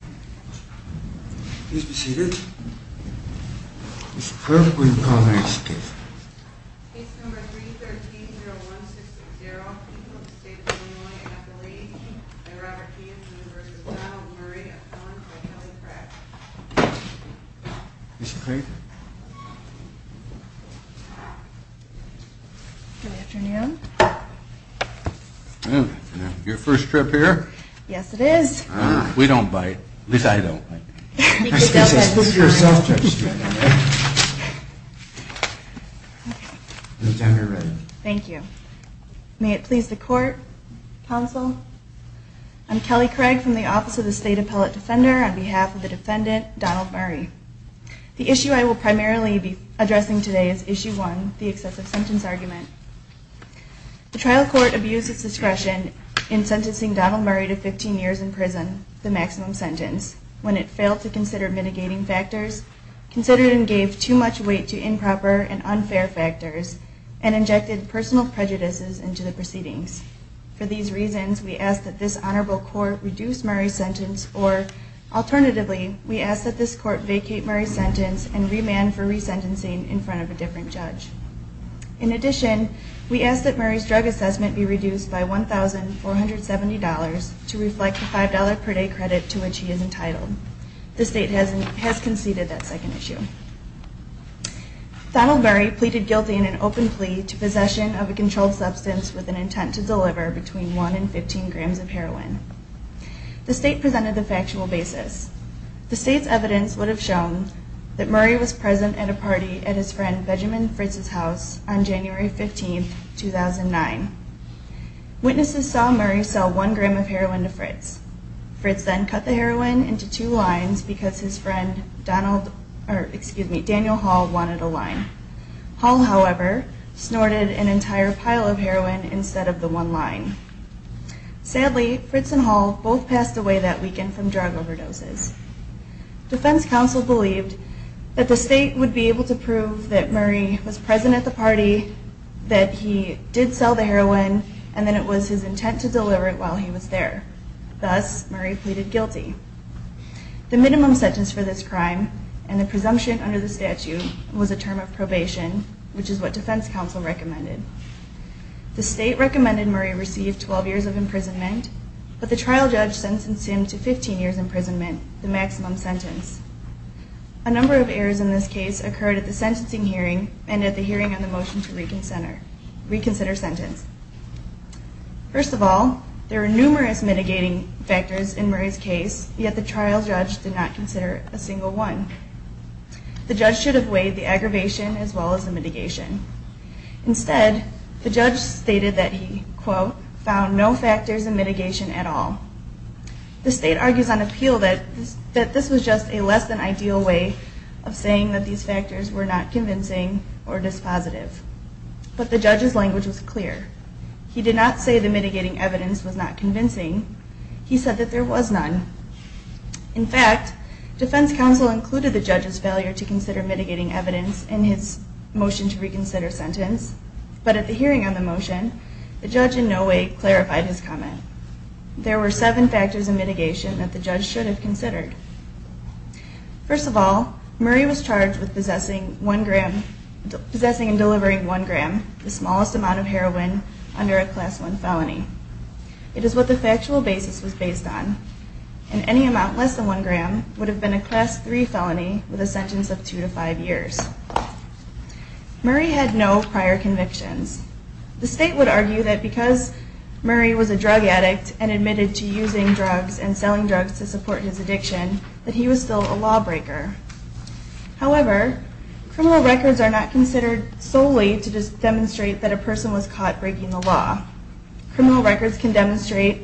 Please be seated. Mr. Craig, will you call the next case? Case number 3301660, People of the State of Illinois, Appalachia, by Robert Keyes v. Donald Murray, a felon by daily practice. Mr. Craig? Good afternoon. Your first trip here? Yes, it is. We don't bite. At least I don't bite. Make yourself at home. Thank you. May it please the Court, Counsel? I'm Kelly Craig from the Office of the State Appellate Defender on behalf of the defendant, Donald Murray. The issue I will primarily be addressing today is Issue 1, the excessive sentence argument. The trial court abused its discretion in sentencing Donald Murray to 15 years in prison, the maximum sentence, when it failed to consider mitigating factors, considered and gave too much weight to improper and unfair factors, and injected personal prejudices into the proceedings. For these reasons, we ask that this honorable court reduce Murray's sentence or, alternatively, we ask that this court vacate Murray's sentence and remand for resentencing in front of a different judge. In addition, we ask that Murray's drug assessment be reduced by $1,470 to reflect the $5 per day credit to which he is entitled. The State has conceded that second issue. Donald Murray pleaded guilty in an open plea to possession of a controlled substance with an intent to deliver between 1 and 15 grams of heroin. The State presented the factual basis. The State's evidence would have shown that Murray was present at a party at his friend Benjamin Fritz's house on January 15, 2009. Witnesses saw Murray sell one gram of heroin to Fritz. Fritz then cut the heroin into two lines because his friend Daniel Hall wanted a line. Hall, however, snorted an entire pile of heroin instead of the one line. Sadly, Fritz and Hall both passed away that weekend from drug overdoses. Defense counsel believed that the State would be able to prove that Murray was present at the party, that he did sell the heroin, and that it was his intent to deliver it while he was there. Thus, Murray pleaded guilty. The minimum sentence for this crime and the presumption under the statute was a term of probation, which is what defense counsel recommended. The State recommended Murray receive 12 years of imprisonment, but the trial judge sentenced him to 15 years imprisonment, the maximum sentence. A number of errors in this case occurred at the sentencing hearing and at the hearing on the motion to reconsider sentence. First of all, there were numerous mitigating factors in Murray's case, yet the trial judge did not consider a single one. The judge should have weighed the aggravation as well as the mitigation. Instead, the judge stated that he, quote, found no factors in mitigation at all. The State argues on appeal that this was just a less than ideal way of saying that these factors were not convincing or dispositive. But the judge's language was clear. He did not say the mitigating evidence was not convincing. He said that there was none. In fact, defense counsel included the judge's failure to consider mitigating evidence in his motion to reconsider sentence, but at the hearing on the motion, the judge in no way clarified his comment. There were seven factors of mitigation that the judge should have considered. First of all, Murray was charged with possessing and delivering one gram, the smallest amount of heroin, under a Class I felony. It is what the factual basis was based on, and any amount less than one gram would have been a Class III felony with a sentence of two to five years. Murray had no prior convictions. The State would argue that because Murray was a drug addict and admitted to using drugs and selling drugs to support his addiction, that he was still a lawbreaker. However, criminal records are not considered solely to demonstrate that a person was caught breaking the law. Criminal records can demonstrate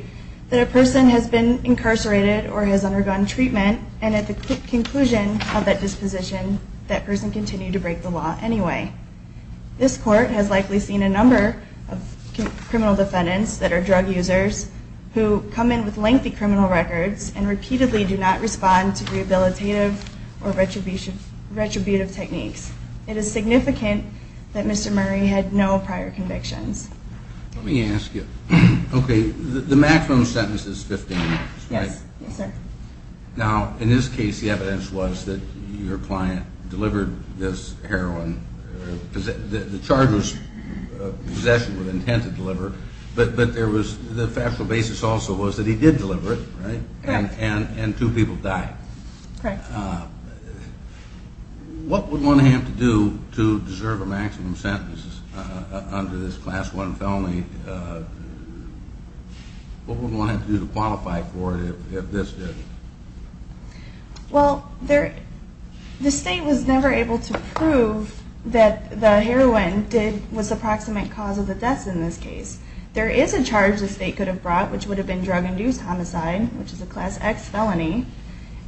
that a person has been incarcerated or has undergone treatment, and at the conclusion of that disposition, that person continued to break the law anyway. This Court has likely seen a number of criminal defendants that are drug users who come in with lengthy criminal records and repeatedly do not respond to rehabilitative or retributive techniques. It is significant that Mr. Murray had no prior convictions. Let me ask you. Okay, the maximum sentence is 15 years, right? Yes, sir. Now, in this case, the evidence was that your client delivered this heroin. The charge was possession with intent to deliver, but the factual basis also was that he did deliver it, right? Correct. And two people died. Correct. What would one have to do to deserve a maximum sentence under this Class I felony? What would one have to do to qualify for it if this did? Well, the state was never able to prove that the heroin was the proximate cause of the deaths in this case. There is a charge the state could have brought, which would have been drug-induced homicide, which is a Class X felony,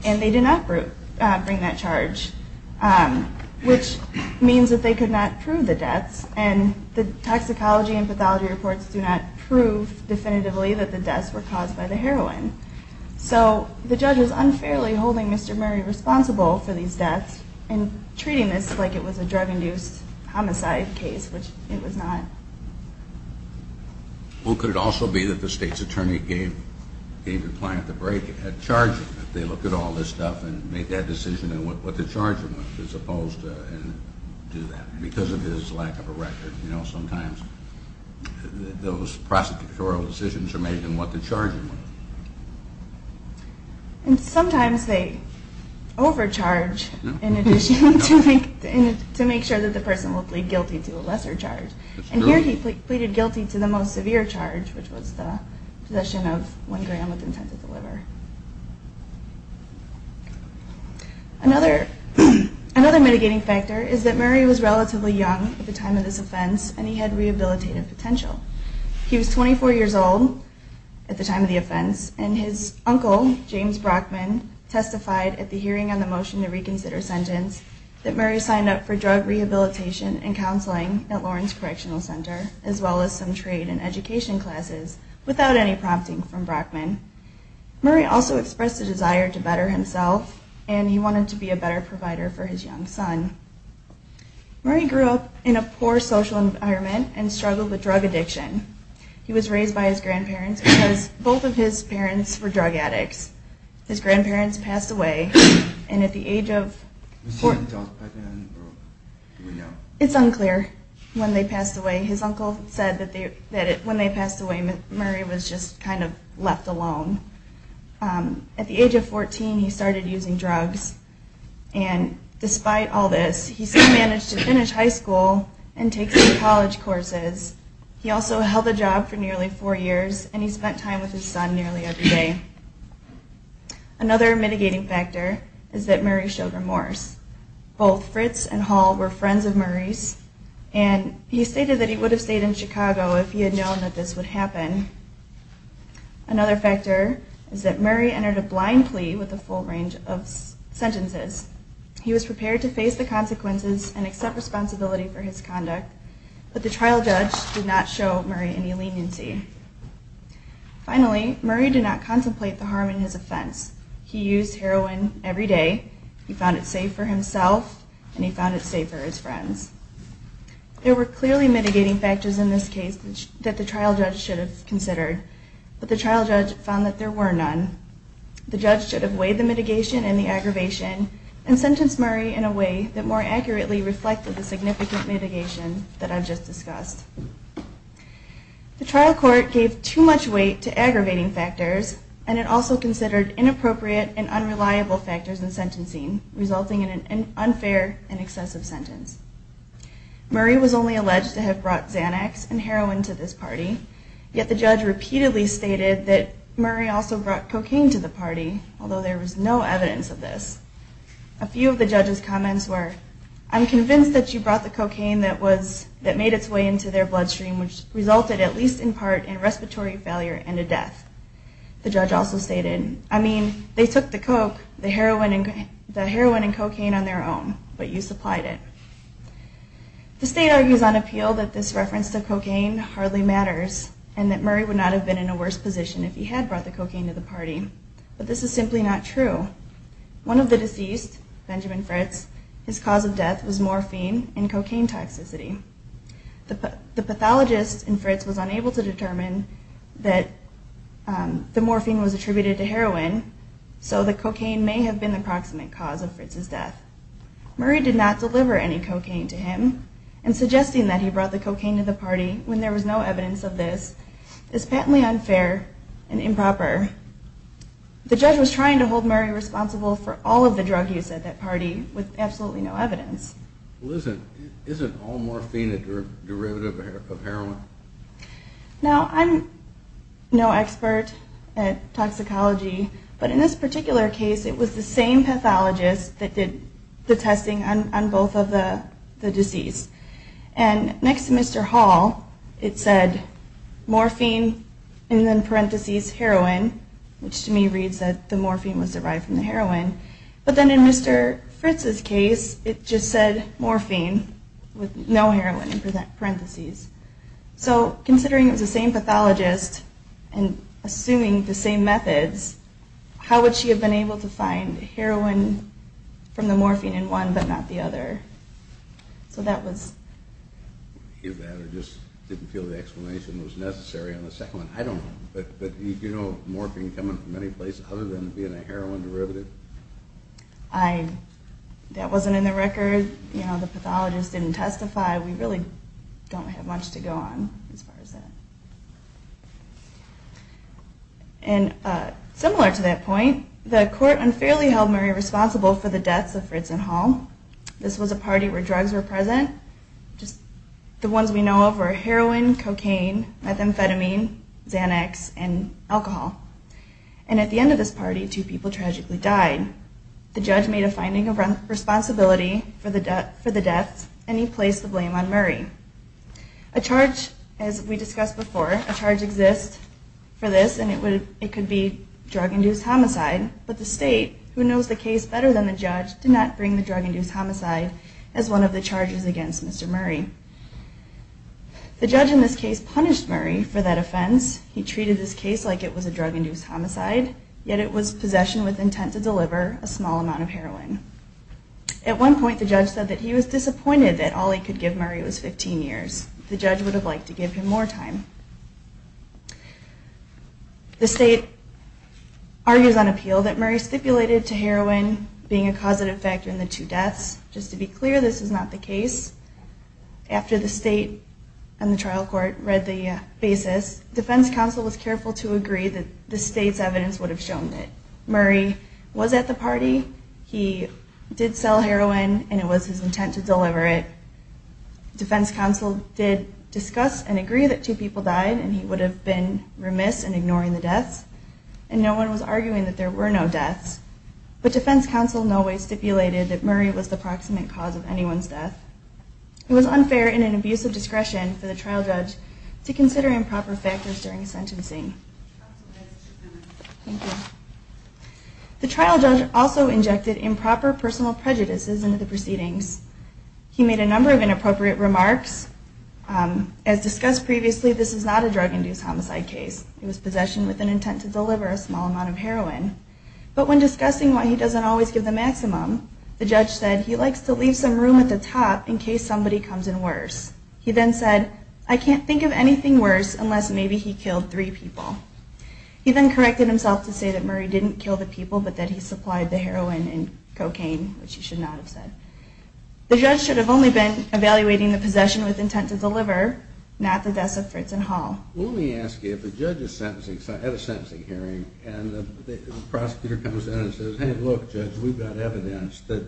and they did not bring that charge, which means that they could not prove the deaths, and the toxicology and pathology reports do not prove definitively that the deaths were caused by the heroin. So the judge is unfairly holding Mr. Murray responsible for these deaths and treating this like it was a drug-induced homicide case, which it was not. Well, could it also be that the state's attorney gave your client the break? They look at all this stuff and make that decision on what to charge him with as opposed to do that because of his lack of a record. You know, sometimes those prosecutorial decisions are made on what to charge him with. And sometimes they overcharge in addition to make sure that the person will plead guilty to a lesser charge. And here he pleaded guilty to the most severe charge, which was the possession of one gram with intent to deliver. Another mitigating factor is that Murray was relatively young at the time of this offense and he had rehabilitative potential. He was 24 years old at the time of the offense, and his uncle, James Brockman, testified at the hearing on the motion to reconsider sentence that Murray signed up for drug rehabilitation and counseling at Lawrence Correctional Center as well as some trade and education classes without any prompting from Brockman. Murray also expressed a desire to better himself, and he wanted to be a better provider for his young son. Murray grew up in a poor social environment and struggled with drug addiction. He was raised by his grandparents because both of his parents were drug addicts. His grandparents passed away, and at the age of four... Was James Brockman a drug addict? It's unclear when they passed away. His uncle said that when they passed away, Murray was just kind of left alone. At the age of 14, he started using drugs, and despite all this, he still managed to finish high school and take some college courses. He also held a job for nearly four years, and he spent time with his son nearly every day. Another mitigating factor is that Murray showed remorse. Both Fritz and Hall were friends of Murray's, and he stated that he would have stayed in Chicago if he had known that this would happen. Another factor is that Murray entered a blind plea with a full range of sentences. He was prepared to face the consequences and accept responsibility for his conduct, but the trial judge did not show Murray any leniency. Finally, Murray did not contemplate the harm in his offense. He used heroin every day, he found it safe for himself, and he found it safe for his friends. There were clearly mitigating factors in this case that the trial judge should have considered, but the trial judge found that there were none. The judge should have weighed the mitigation and the aggravation, and sentenced Murray in a way that more accurately reflected the significant mitigation that I've just discussed. The trial court gave too much weight to aggravating factors, and it also considered inappropriate and unreliable factors in sentencing, resulting in an unfair and excessive sentence. Murray was only alleged to have brought Xanax and heroin to this party, yet the judge repeatedly stated that Murray also brought cocaine to the party, although there was no evidence of this. A few of the judge's comments were, I'm convinced that you brought the cocaine that made its way into their bloodstream, which resulted at least in part in respiratory failure and a death. The judge also stated, I mean, they took the coke, the heroin, and cocaine on their own, but you supplied it. The state argues on appeal that this reference to cocaine hardly matters, and that Murray would not have been in a worse position if he had brought the cocaine to the party, but this is simply not true. One of the deceased, Benjamin Fritz, his cause of death was morphine and cocaine toxicity. The pathologist in Fritz was unable to determine that the morphine was attributed to heroin, so the cocaine may have been the proximate cause of Fritz's death. Murray did not deliver any cocaine to him, and suggesting that he brought the cocaine to the party when there was no evidence of this is patently unfair and improper. The judge was trying to hold Murray responsible for all of the drug use at that party with absolutely no evidence. Well, listen, isn't all morphine a derivative of heroin? Now, I'm no expert at toxicology, but in this particular case, it was the same pathologist that did the testing on both of the deceased. And next to Mr. Hall, it said morphine and then parentheses heroin, which to me reads that the morphine was derived from the heroin. But then in Mr. Fritz's case, it just said morphine with no heroin in parentheses. So considering it was the same pathologist and assuming the same methods, how would she have been able to find heroin from the morphine in one but not the other? So that was... I just didn't feel the explanation was necessary on the second one. I don't know, but do you know of morphine coming from any place other than being a heroin derivative? That wasn't in the record. The pathologist didn't testify. We really don't have much to go on as far as that. And similar to that point, the court unfairly held Murray responsible for the deaths of Fritz and Hall. This was a party where drugs were present. The ones we know of are heroin, cocaine, methamphetamine, Xanax, and alcohol. And at the end of this party, two people tragically died. The judge made a finding of responsibility for the deaths, and he placed the blame on Murray. A charge, as we discussed before, a charge exists for this, and it could be drug-induced homicide. But the state, who knows the case better than the judge, did not bring the drug-induced homicide as one of the charges against Mr. Murray. The judge in this case punished Murray for that offense. He treated this case like it was a drug-induced homicide, yet it was possession with intent to deliver a small amount of heroin. At one point, the judge said that he was disappointed that all he could give Murray was 15 years. The judge would have liked to give him more time. The state argues on appeal that Murray stipulated to heroin being a causative factor in the two deaths. Just to be clear, this is not the case. After the state and the trial court read the basis, defense counsel was careful to agree that the state's evidence would have shown it. Murray was at the party. He did sell heroin, and it was his intent to deliver it. Defense counsel did discuss and agree that two people died, and he would have been remiss in ignoring the deaths. And no one was arguing that there were no deaths. But defense counsel in no way stipulated that Murray was the proximate cause of anyone's death. It was unfair and an abuse of discretion for the trial judge to consider improper factors during sentencing. The trial judge also injected improper personal prejudices into the proceedings. He made a number of inappropriate remarks. As discussed previously, this is not a drug-induced homicide case. But when discussing why he doesn't always give the maximum, the judge said he likes to leave some room at the top in case somebody comes in worse. He then said, I can't think of anything worse unless maybe he killed three people. He then corrected himself to say that Murray didn't kill the people, but that he supplied the heroin and cocaine, which he should not have said. The judge should have only been evaluating the possession with intent to deliver, not the deaths of Fritz and Hall. Let me ask you, if a judge is sentencing, had a sentencing hearing, and the prosecutor comes in and says, hey, look, judge, we've got evidence that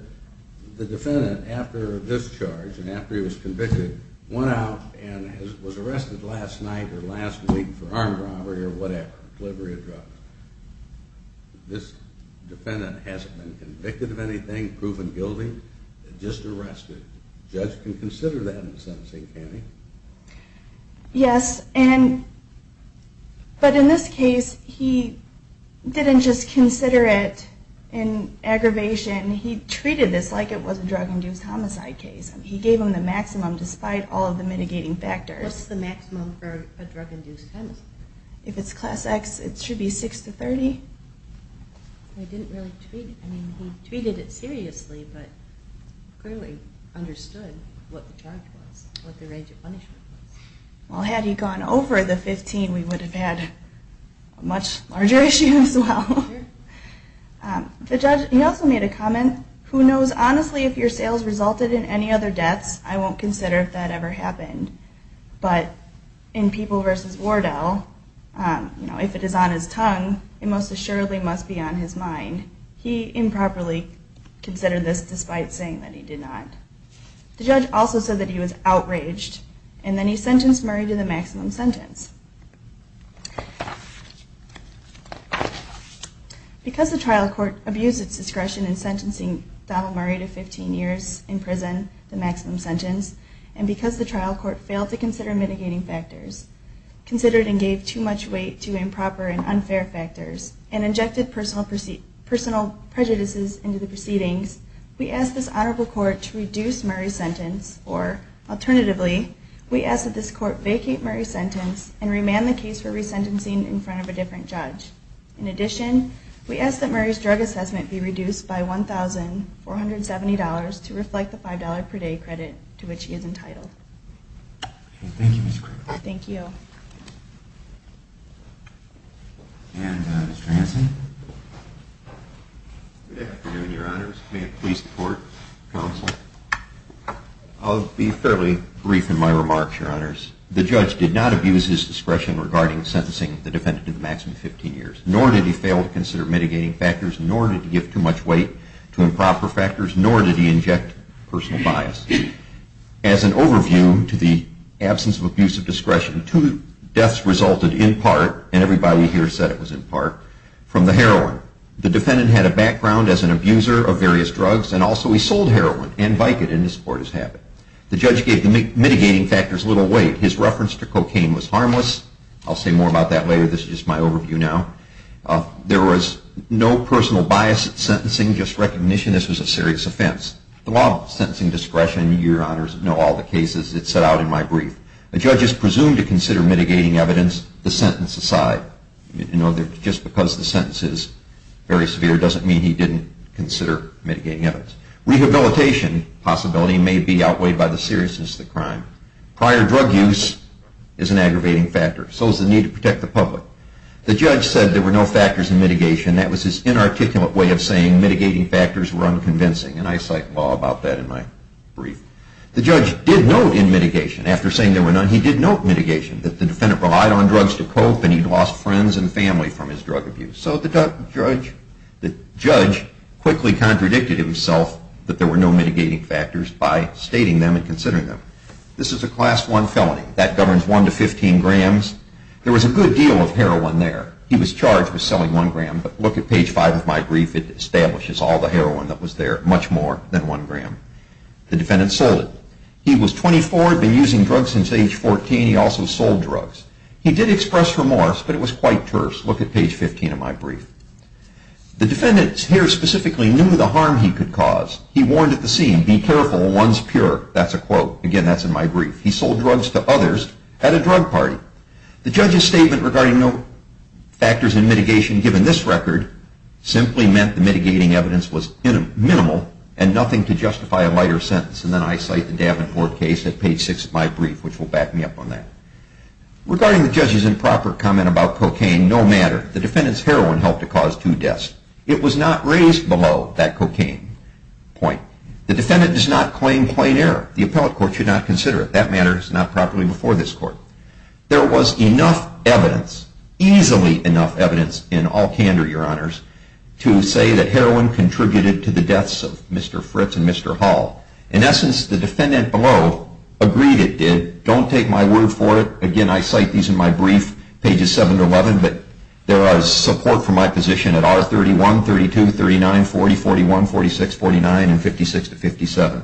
the defendant, after a discharge and after he was convicted, went out and was arrested last night or last week for armed robbery or whatever, delivery of drugs. This defendant hasn't been convicted of anything, proven guilty, just arrested. The judge can consider that in the sentencing, can he? Yes. But in this case, he didn't just consider it an aggravation. He treated this like it was a drug-induced homicide case. He gave him the maximum despite all of the mitigating factors. What's the maximum for a drug-induced homicide? If it's class X, it should be 6 to 30. He didn't really treat it. I mean, he treated it seriously, but clearly understood what the charge was, what the range of punishment was. Well, had he gone over the 15, we would have had a much larger issue as well. He also made a comment, who knows honestly if your sales resulted in any other deaths. I won't consider if that ever happened. But in People v. Wardell, if it is on his tongue, it most assuredly must be on his mind. He improperly considered this despite saying that he did not. The judge also said that he was outraged, and then he sentenced Murray to the maximum sentence. Because the trial court abused its discretion in sentencing Donald Murray to 15 years in prison, the maximum sentence, and because the trial court failed to consider mitigating factors, considered and gave too much weight to improper and unfair factors, and injected personal prejudices into the proceedings, we ask this honorable court to reduce Murray's sentence, or alternatively, we ask that this court vacate Murray's sentence and remand the case for resentencing in front of a different judge. In addition, we ask that Murray's drug assessment be reduced by $1,470 to reflect the $5 per day credit to which he is entitled. Thank you, Ms. Crick. Thank you. And Mr. Hanson? Good afternoon, your honors. May it please the court, counsel. I'll be fairly brief in my remarks, your honors. The judge did not abuse his discretion regarding sentencing the defendant to the maximum of 15 years, nor did he fail to consider mitigating factors, nor did he give too much weight to improper factors, nor did he inject personal bias. As an overview to the absence of abuse of discretion, two deaths resulted in part, and everybody here said it was in part, from the heroin. The defendant had a background as an abuser of various drugs, and also he sold heroin and Vicodin, as this court has happened. The judge gave the mitigating factors little weight. His reference to cocaine was harmless. I'll say more about that later. This is just my overview now. There was no personal bias at sentencing, just recognition this was a serious offense. The law of sentencing discretion, your honors, know all the cases. It's set out in my brief. The judge is presumed to consider mitigating evidence, the sentence aside. Just because the sentence is very severe doesn't mean he didn't consider mitigating evidence. Rehabilitation possibility may be outweighed by the seriousness of the crime. Prior drug use is an aggravating factor. So is the need to protect the public. The judge said there were no factors in mitigation. That was his inarticulate way of saying mitigating factors were unconvincing, and I cite law about that in my brief. The judge did note in mitigation, after saying there were none, that the defendant relied on drugs to cope and he'd lost friends and family from his drug abuse. So the judge quickly contradicted himself that there were no mitigating factors by stating them and considering them. This is a Class I felony. That governs 1 to 15 grams. There was a good deal of heroin there. He was charged with selling 1 gram, but look at page 5 of my brief. It establishes all the heroin that was there, much more than 1 gram. The defendant sold it. He was 24, had been using drugs since age 14. He also sold drugs. He did express remorse, but it was quite terse. Look at page 15 of my brief. The defendant here specifically knew the harm he could cause. He warned at the scene, be careful, one's pure. That's a quote. Again, that's in my brief. He sold drugs to others at a drug party. The judge's statement regarding no factors in mitigation given this record simply meant the mitigating evidence was minimal and nothing to justify a lighter sentence. And then I cite the Davenport case at page 6 of my brief, which will back me up on that. Regarding the judge's improper comment about cocaine, no matter. The defendant's heroin helped to cause two deaths. It was not raised below that cocaine point. The defendant does not claim plain error. The appellate court should not consider it. That matter is not properly before this court. There was enough evidence, easily enough evidence, in all candor, Your Honors, to say that heroin contributed to the deaths of Mr. Fritz and Mr. Hall. In essence, the defendant below agreed it did. Don't take my word for it. Again, I cite these in my brief, pages 7 to 11. But there is support for my position at R31, 32, 39, 40, 41, 46, 49, and 56 to 57.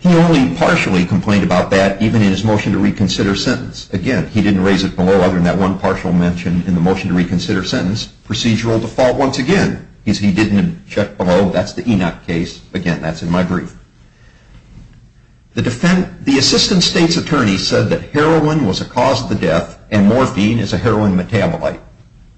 He only partially complained about that even in his motion to reconsider sentence. Again, he didn't raise it below other than that one partial mention in the motion to reconsider sentence. Procedural default once again. He didn't check below. That's the Enoch case. Again, that's in my brief. The assistant state's attorney said that heroin was a cause of the death and morphine is a heroin metabolite.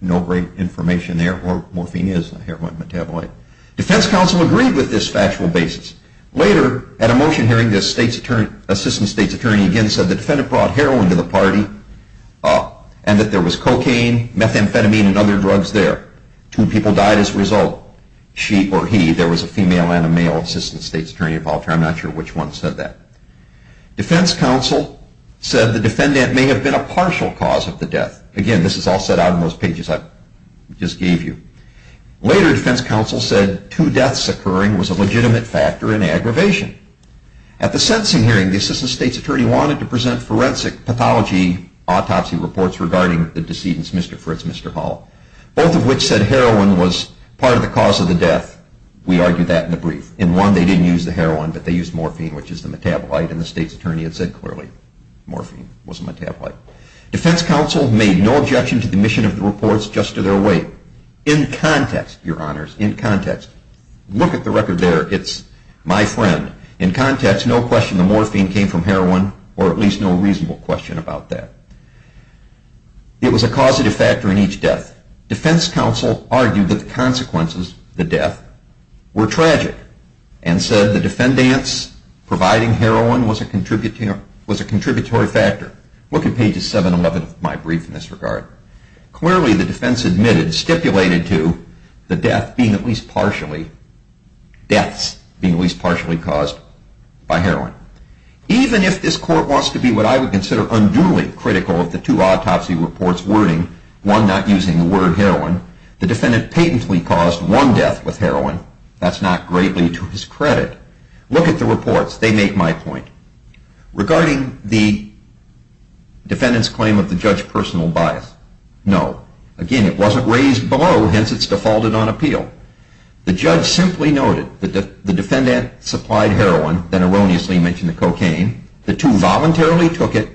No great information there. Morphine is a heroin metabolite. Defense counsel agreed with this factual basis. Later, at a motion hearing, the assistant state's attorney again said the defendant brought heroin to the party and that there was cocaine, methamphetamine, and other drugs there. Two people died as a result, she or he. There was a female and a male assistant state's attorney involved here. I'm not sure which one said that. Defense counsel said the defendant may have been a partial cause of the death. Again, this is all set out in those pages I just gave you. Later, defense counsel said two deaths occurring was a legitimate factor in aggravation. At the sentencing hearing, the assistant state's attorney wanted to present forensic pathology autopsy reports regarding the decedents, Mr. Fritz and Mr. Hall, both of which said heroin was part of the cause of the death. We argued that in the brief. In one, they didn't use the heroin, but they used morphine, which is the metabolite, and the state's attorney had said clearly morphine was a metabolite. Defense counsel made no objection to the mission of the reports, just to their weight. In context, your honors, in context, look at the record there. It's my friend. In context, no question the morphine came from heroin, or at least no reasonable question about that. It was a causative factor in each death. Defense counsel argued that the consequences of the death were tragic and said the defendant's providing heroin was a contributory factor. Look at pages 7 and 11 of my brief in this regard. Clearly, the defense admitted, stipulated to the death being at least partially, deaths being at least partially caused by heroin. Even if this court wants to be what I would consider unduly critical of the two autopsy reports, wording one not using the word heroin, the defendant patently caused one death with heroin. That's not greatly to his credit. Look at the reports. They make my point. Regarding the defendant's claim of the judge's personal bias, no. Again, it wasn't raised below, hence it's defaulted on appeal. The judge simply noted that the defendant supplied heroin, then erroneously mentioned the cocaine. The two voluntarily took it,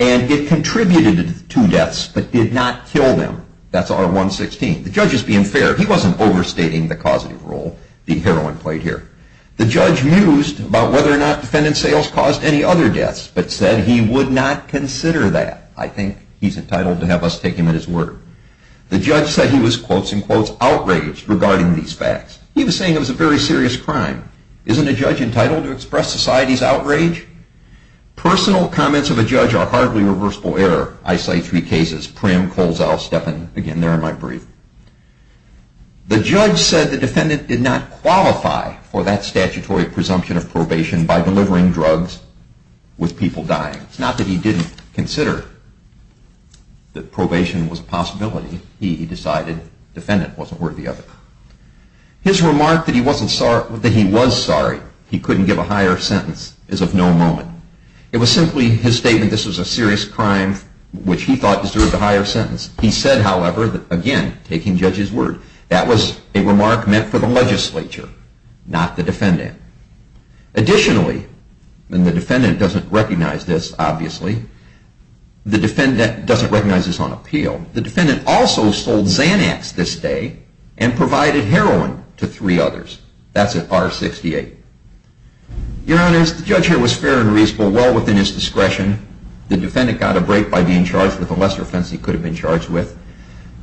and it contributed to the two deaths, but did not kill them. That's R116. The judge is being fair. He wasn't overstating the causative role the heroin played here. The judge mused about whether or not defendant sales caused any other deaths, but said he would not consider that. I think he's entitled to have us take him at his word. The judge said he was, quotes-and-quotes, outraged regarding these facts. He was saying it was a very serious crime. Isn't a judge entitled to express society's outrage? Personal comments of a judge are hardly reversible error. I cite three cases, Primm, Colzal, Steffen. Again, they're in my brief. The judge said the defendant did not qualify for that statutory presumption of probation by delivering drugs with people dying. It's not that he didn't consider that probation was a possibility. He decided defendant wasn't worthy of it. His remark that he was sorry he couldn't give a higher sentence is of no moment. It was simply his statement this was a serious crime, which he thought deserved a higher sentence. He said, however, again, taking judge's word, that was a remark meant for the legislature, not the defendant. Additionally, and the defendant doesn't recognize this, obviously, the defendant doesn't recognize this on appeal, the defendant also sold Xanax this day and provided heroin to three others. That's at par 68. Your Honors, the judge here was fair and reasonable, well within his discretion. The defendant got a break by being charged with a lesser offense he could have been charged with.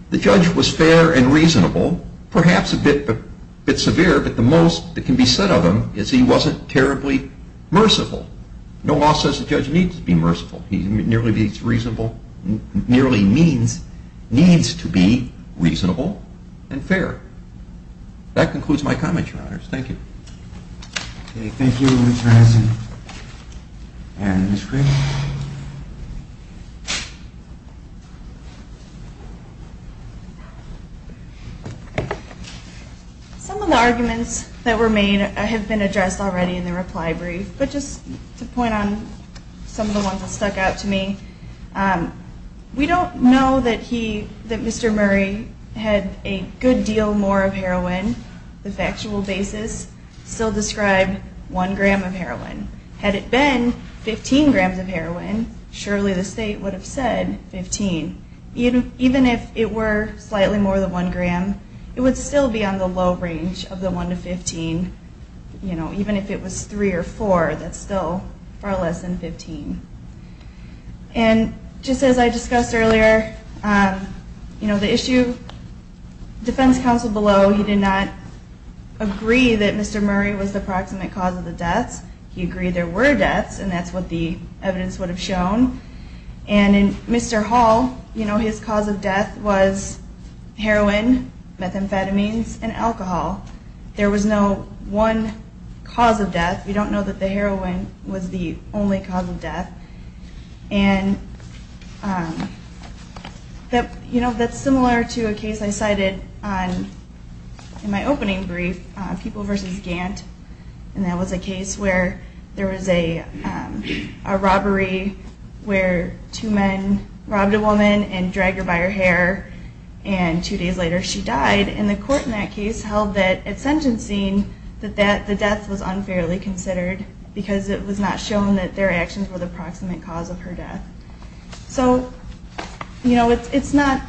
The judge was fair and reasonable, perhaps a bit severe, but the most that can be said of him is he wasn't terribly merciful. No law says a judge needs to be merciful. He nearly needs to be reasonable and fair. That concludes my comments, Your Honors. Thank you. Okay, thank you, Mr. Hanson. And Ms. Gray? Some of the arguments that were made have been addressed already in the reply brief, but just to point on some of the ones that stuck out to me, we don't know that Mr. Murray had a good deal more of heroin. The factual basis still described 1 gram of heroin. Had it been 15 grams of heroin, surely the state would have said 15. Even if it were slightly more than 1 gram, it would still be on the low range of the 1 to 15, even if it was 3 or 4, that's still far less than 15. And just as I discussed earlier, the issue, defense counsel below, he did not agree that Mr. Murray was the proximate cause of the deaths. He agreed there were deaths, and that's what the evidence would have shown. And in Mr. Hall, his cause of death was heroin, methamphetamines, and alcohol. There was no one cause of death. We don't know that the heroin was the only cause of death. And that's similar to a case I cited in my opening brief, People v. Gant. And that was a case where there was a robbery where two men robbed a woman and dragged her by her hair, and two days later she died. And the court in that case held that at sentencing that the death was unfairly considered because it was not shown that their actions were the proximate cause of her death. So, you know, it's not,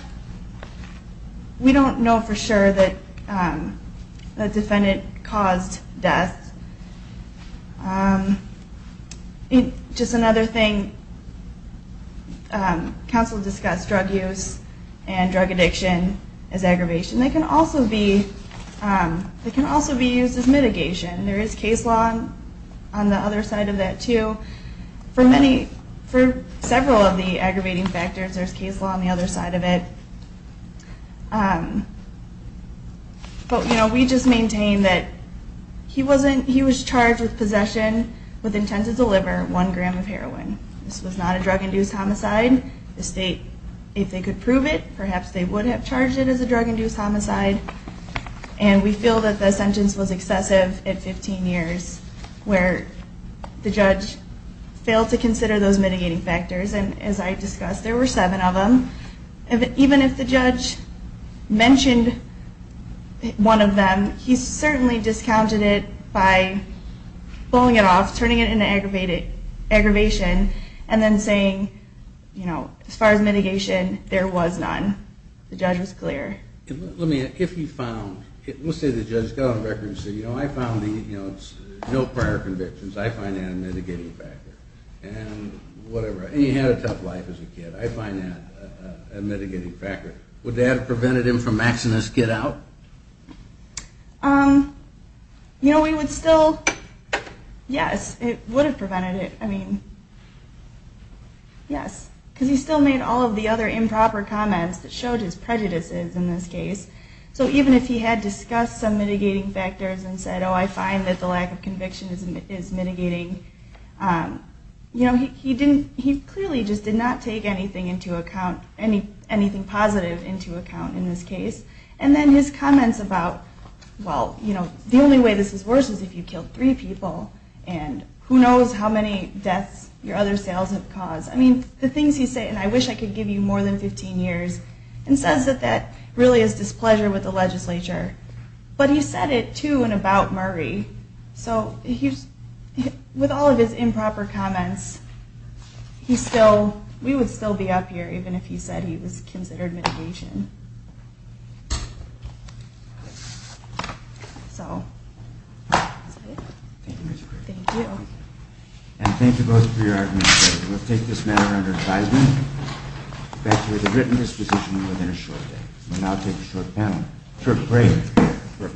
we don't know for sure that the defendant caused death. Just another thing, counsel discussed drug use and drug addiction as aggravation. They can also be used as mitigation. There is case law on the other side of that, too. For several of the aggravating factors, there's case law on the other side of it. But, you know, we just maintain that he was charged with possession with intent to deliver one gram of heroin. This was not a drug-induced homicide. The state, if they could prove it, perhaps they would have charged it as a drug-induced homicide. And we feel that the sentence was excessive at 15 years where the judge failed to consider those mitigating factors. And as I discussed, there were seven of them. Even if the judge mentioned one of them, he certainly discounted it by pulling it off, turning it into aggravation, and then saying, you know, as far as mitigation, there was none. The judge was clear. Let me ask, if you found, let's say the judge got on record and said, you know, I found no prior convictions. I find that a mitigating factor. And whatever, and he had a tough life as a kid. I find that a mitigating factor. Would they have prevented him from axing his kid out? You know, we would still, yes, it would have prevented it. I mean, yes. Because he still made all of the other improper comments that showed his prejudices in this case. So even if he had discussed some mitigating factors and said, oh, I find that the lack of conviction is mitigating, you know, he clearly just did not take anything into account, anything positive into account in this case. And then his comments about, well, you know, the only way this is worse is if you killed three people, and who knows how many deaths your other sales have caused. I mean, the things he said, and I wish I could give you more than 15 years, and says that that really is displeasure with the legislature. But he said it, too, and about Murray. So with all of his improper comments, we would still be up here even if he said he was considered mitigation. So that's it. Thank you. And thank you both for your arguments today. We'll take this matter under advisement. In fact, we've written this decision within a short day. We'll now take a short break.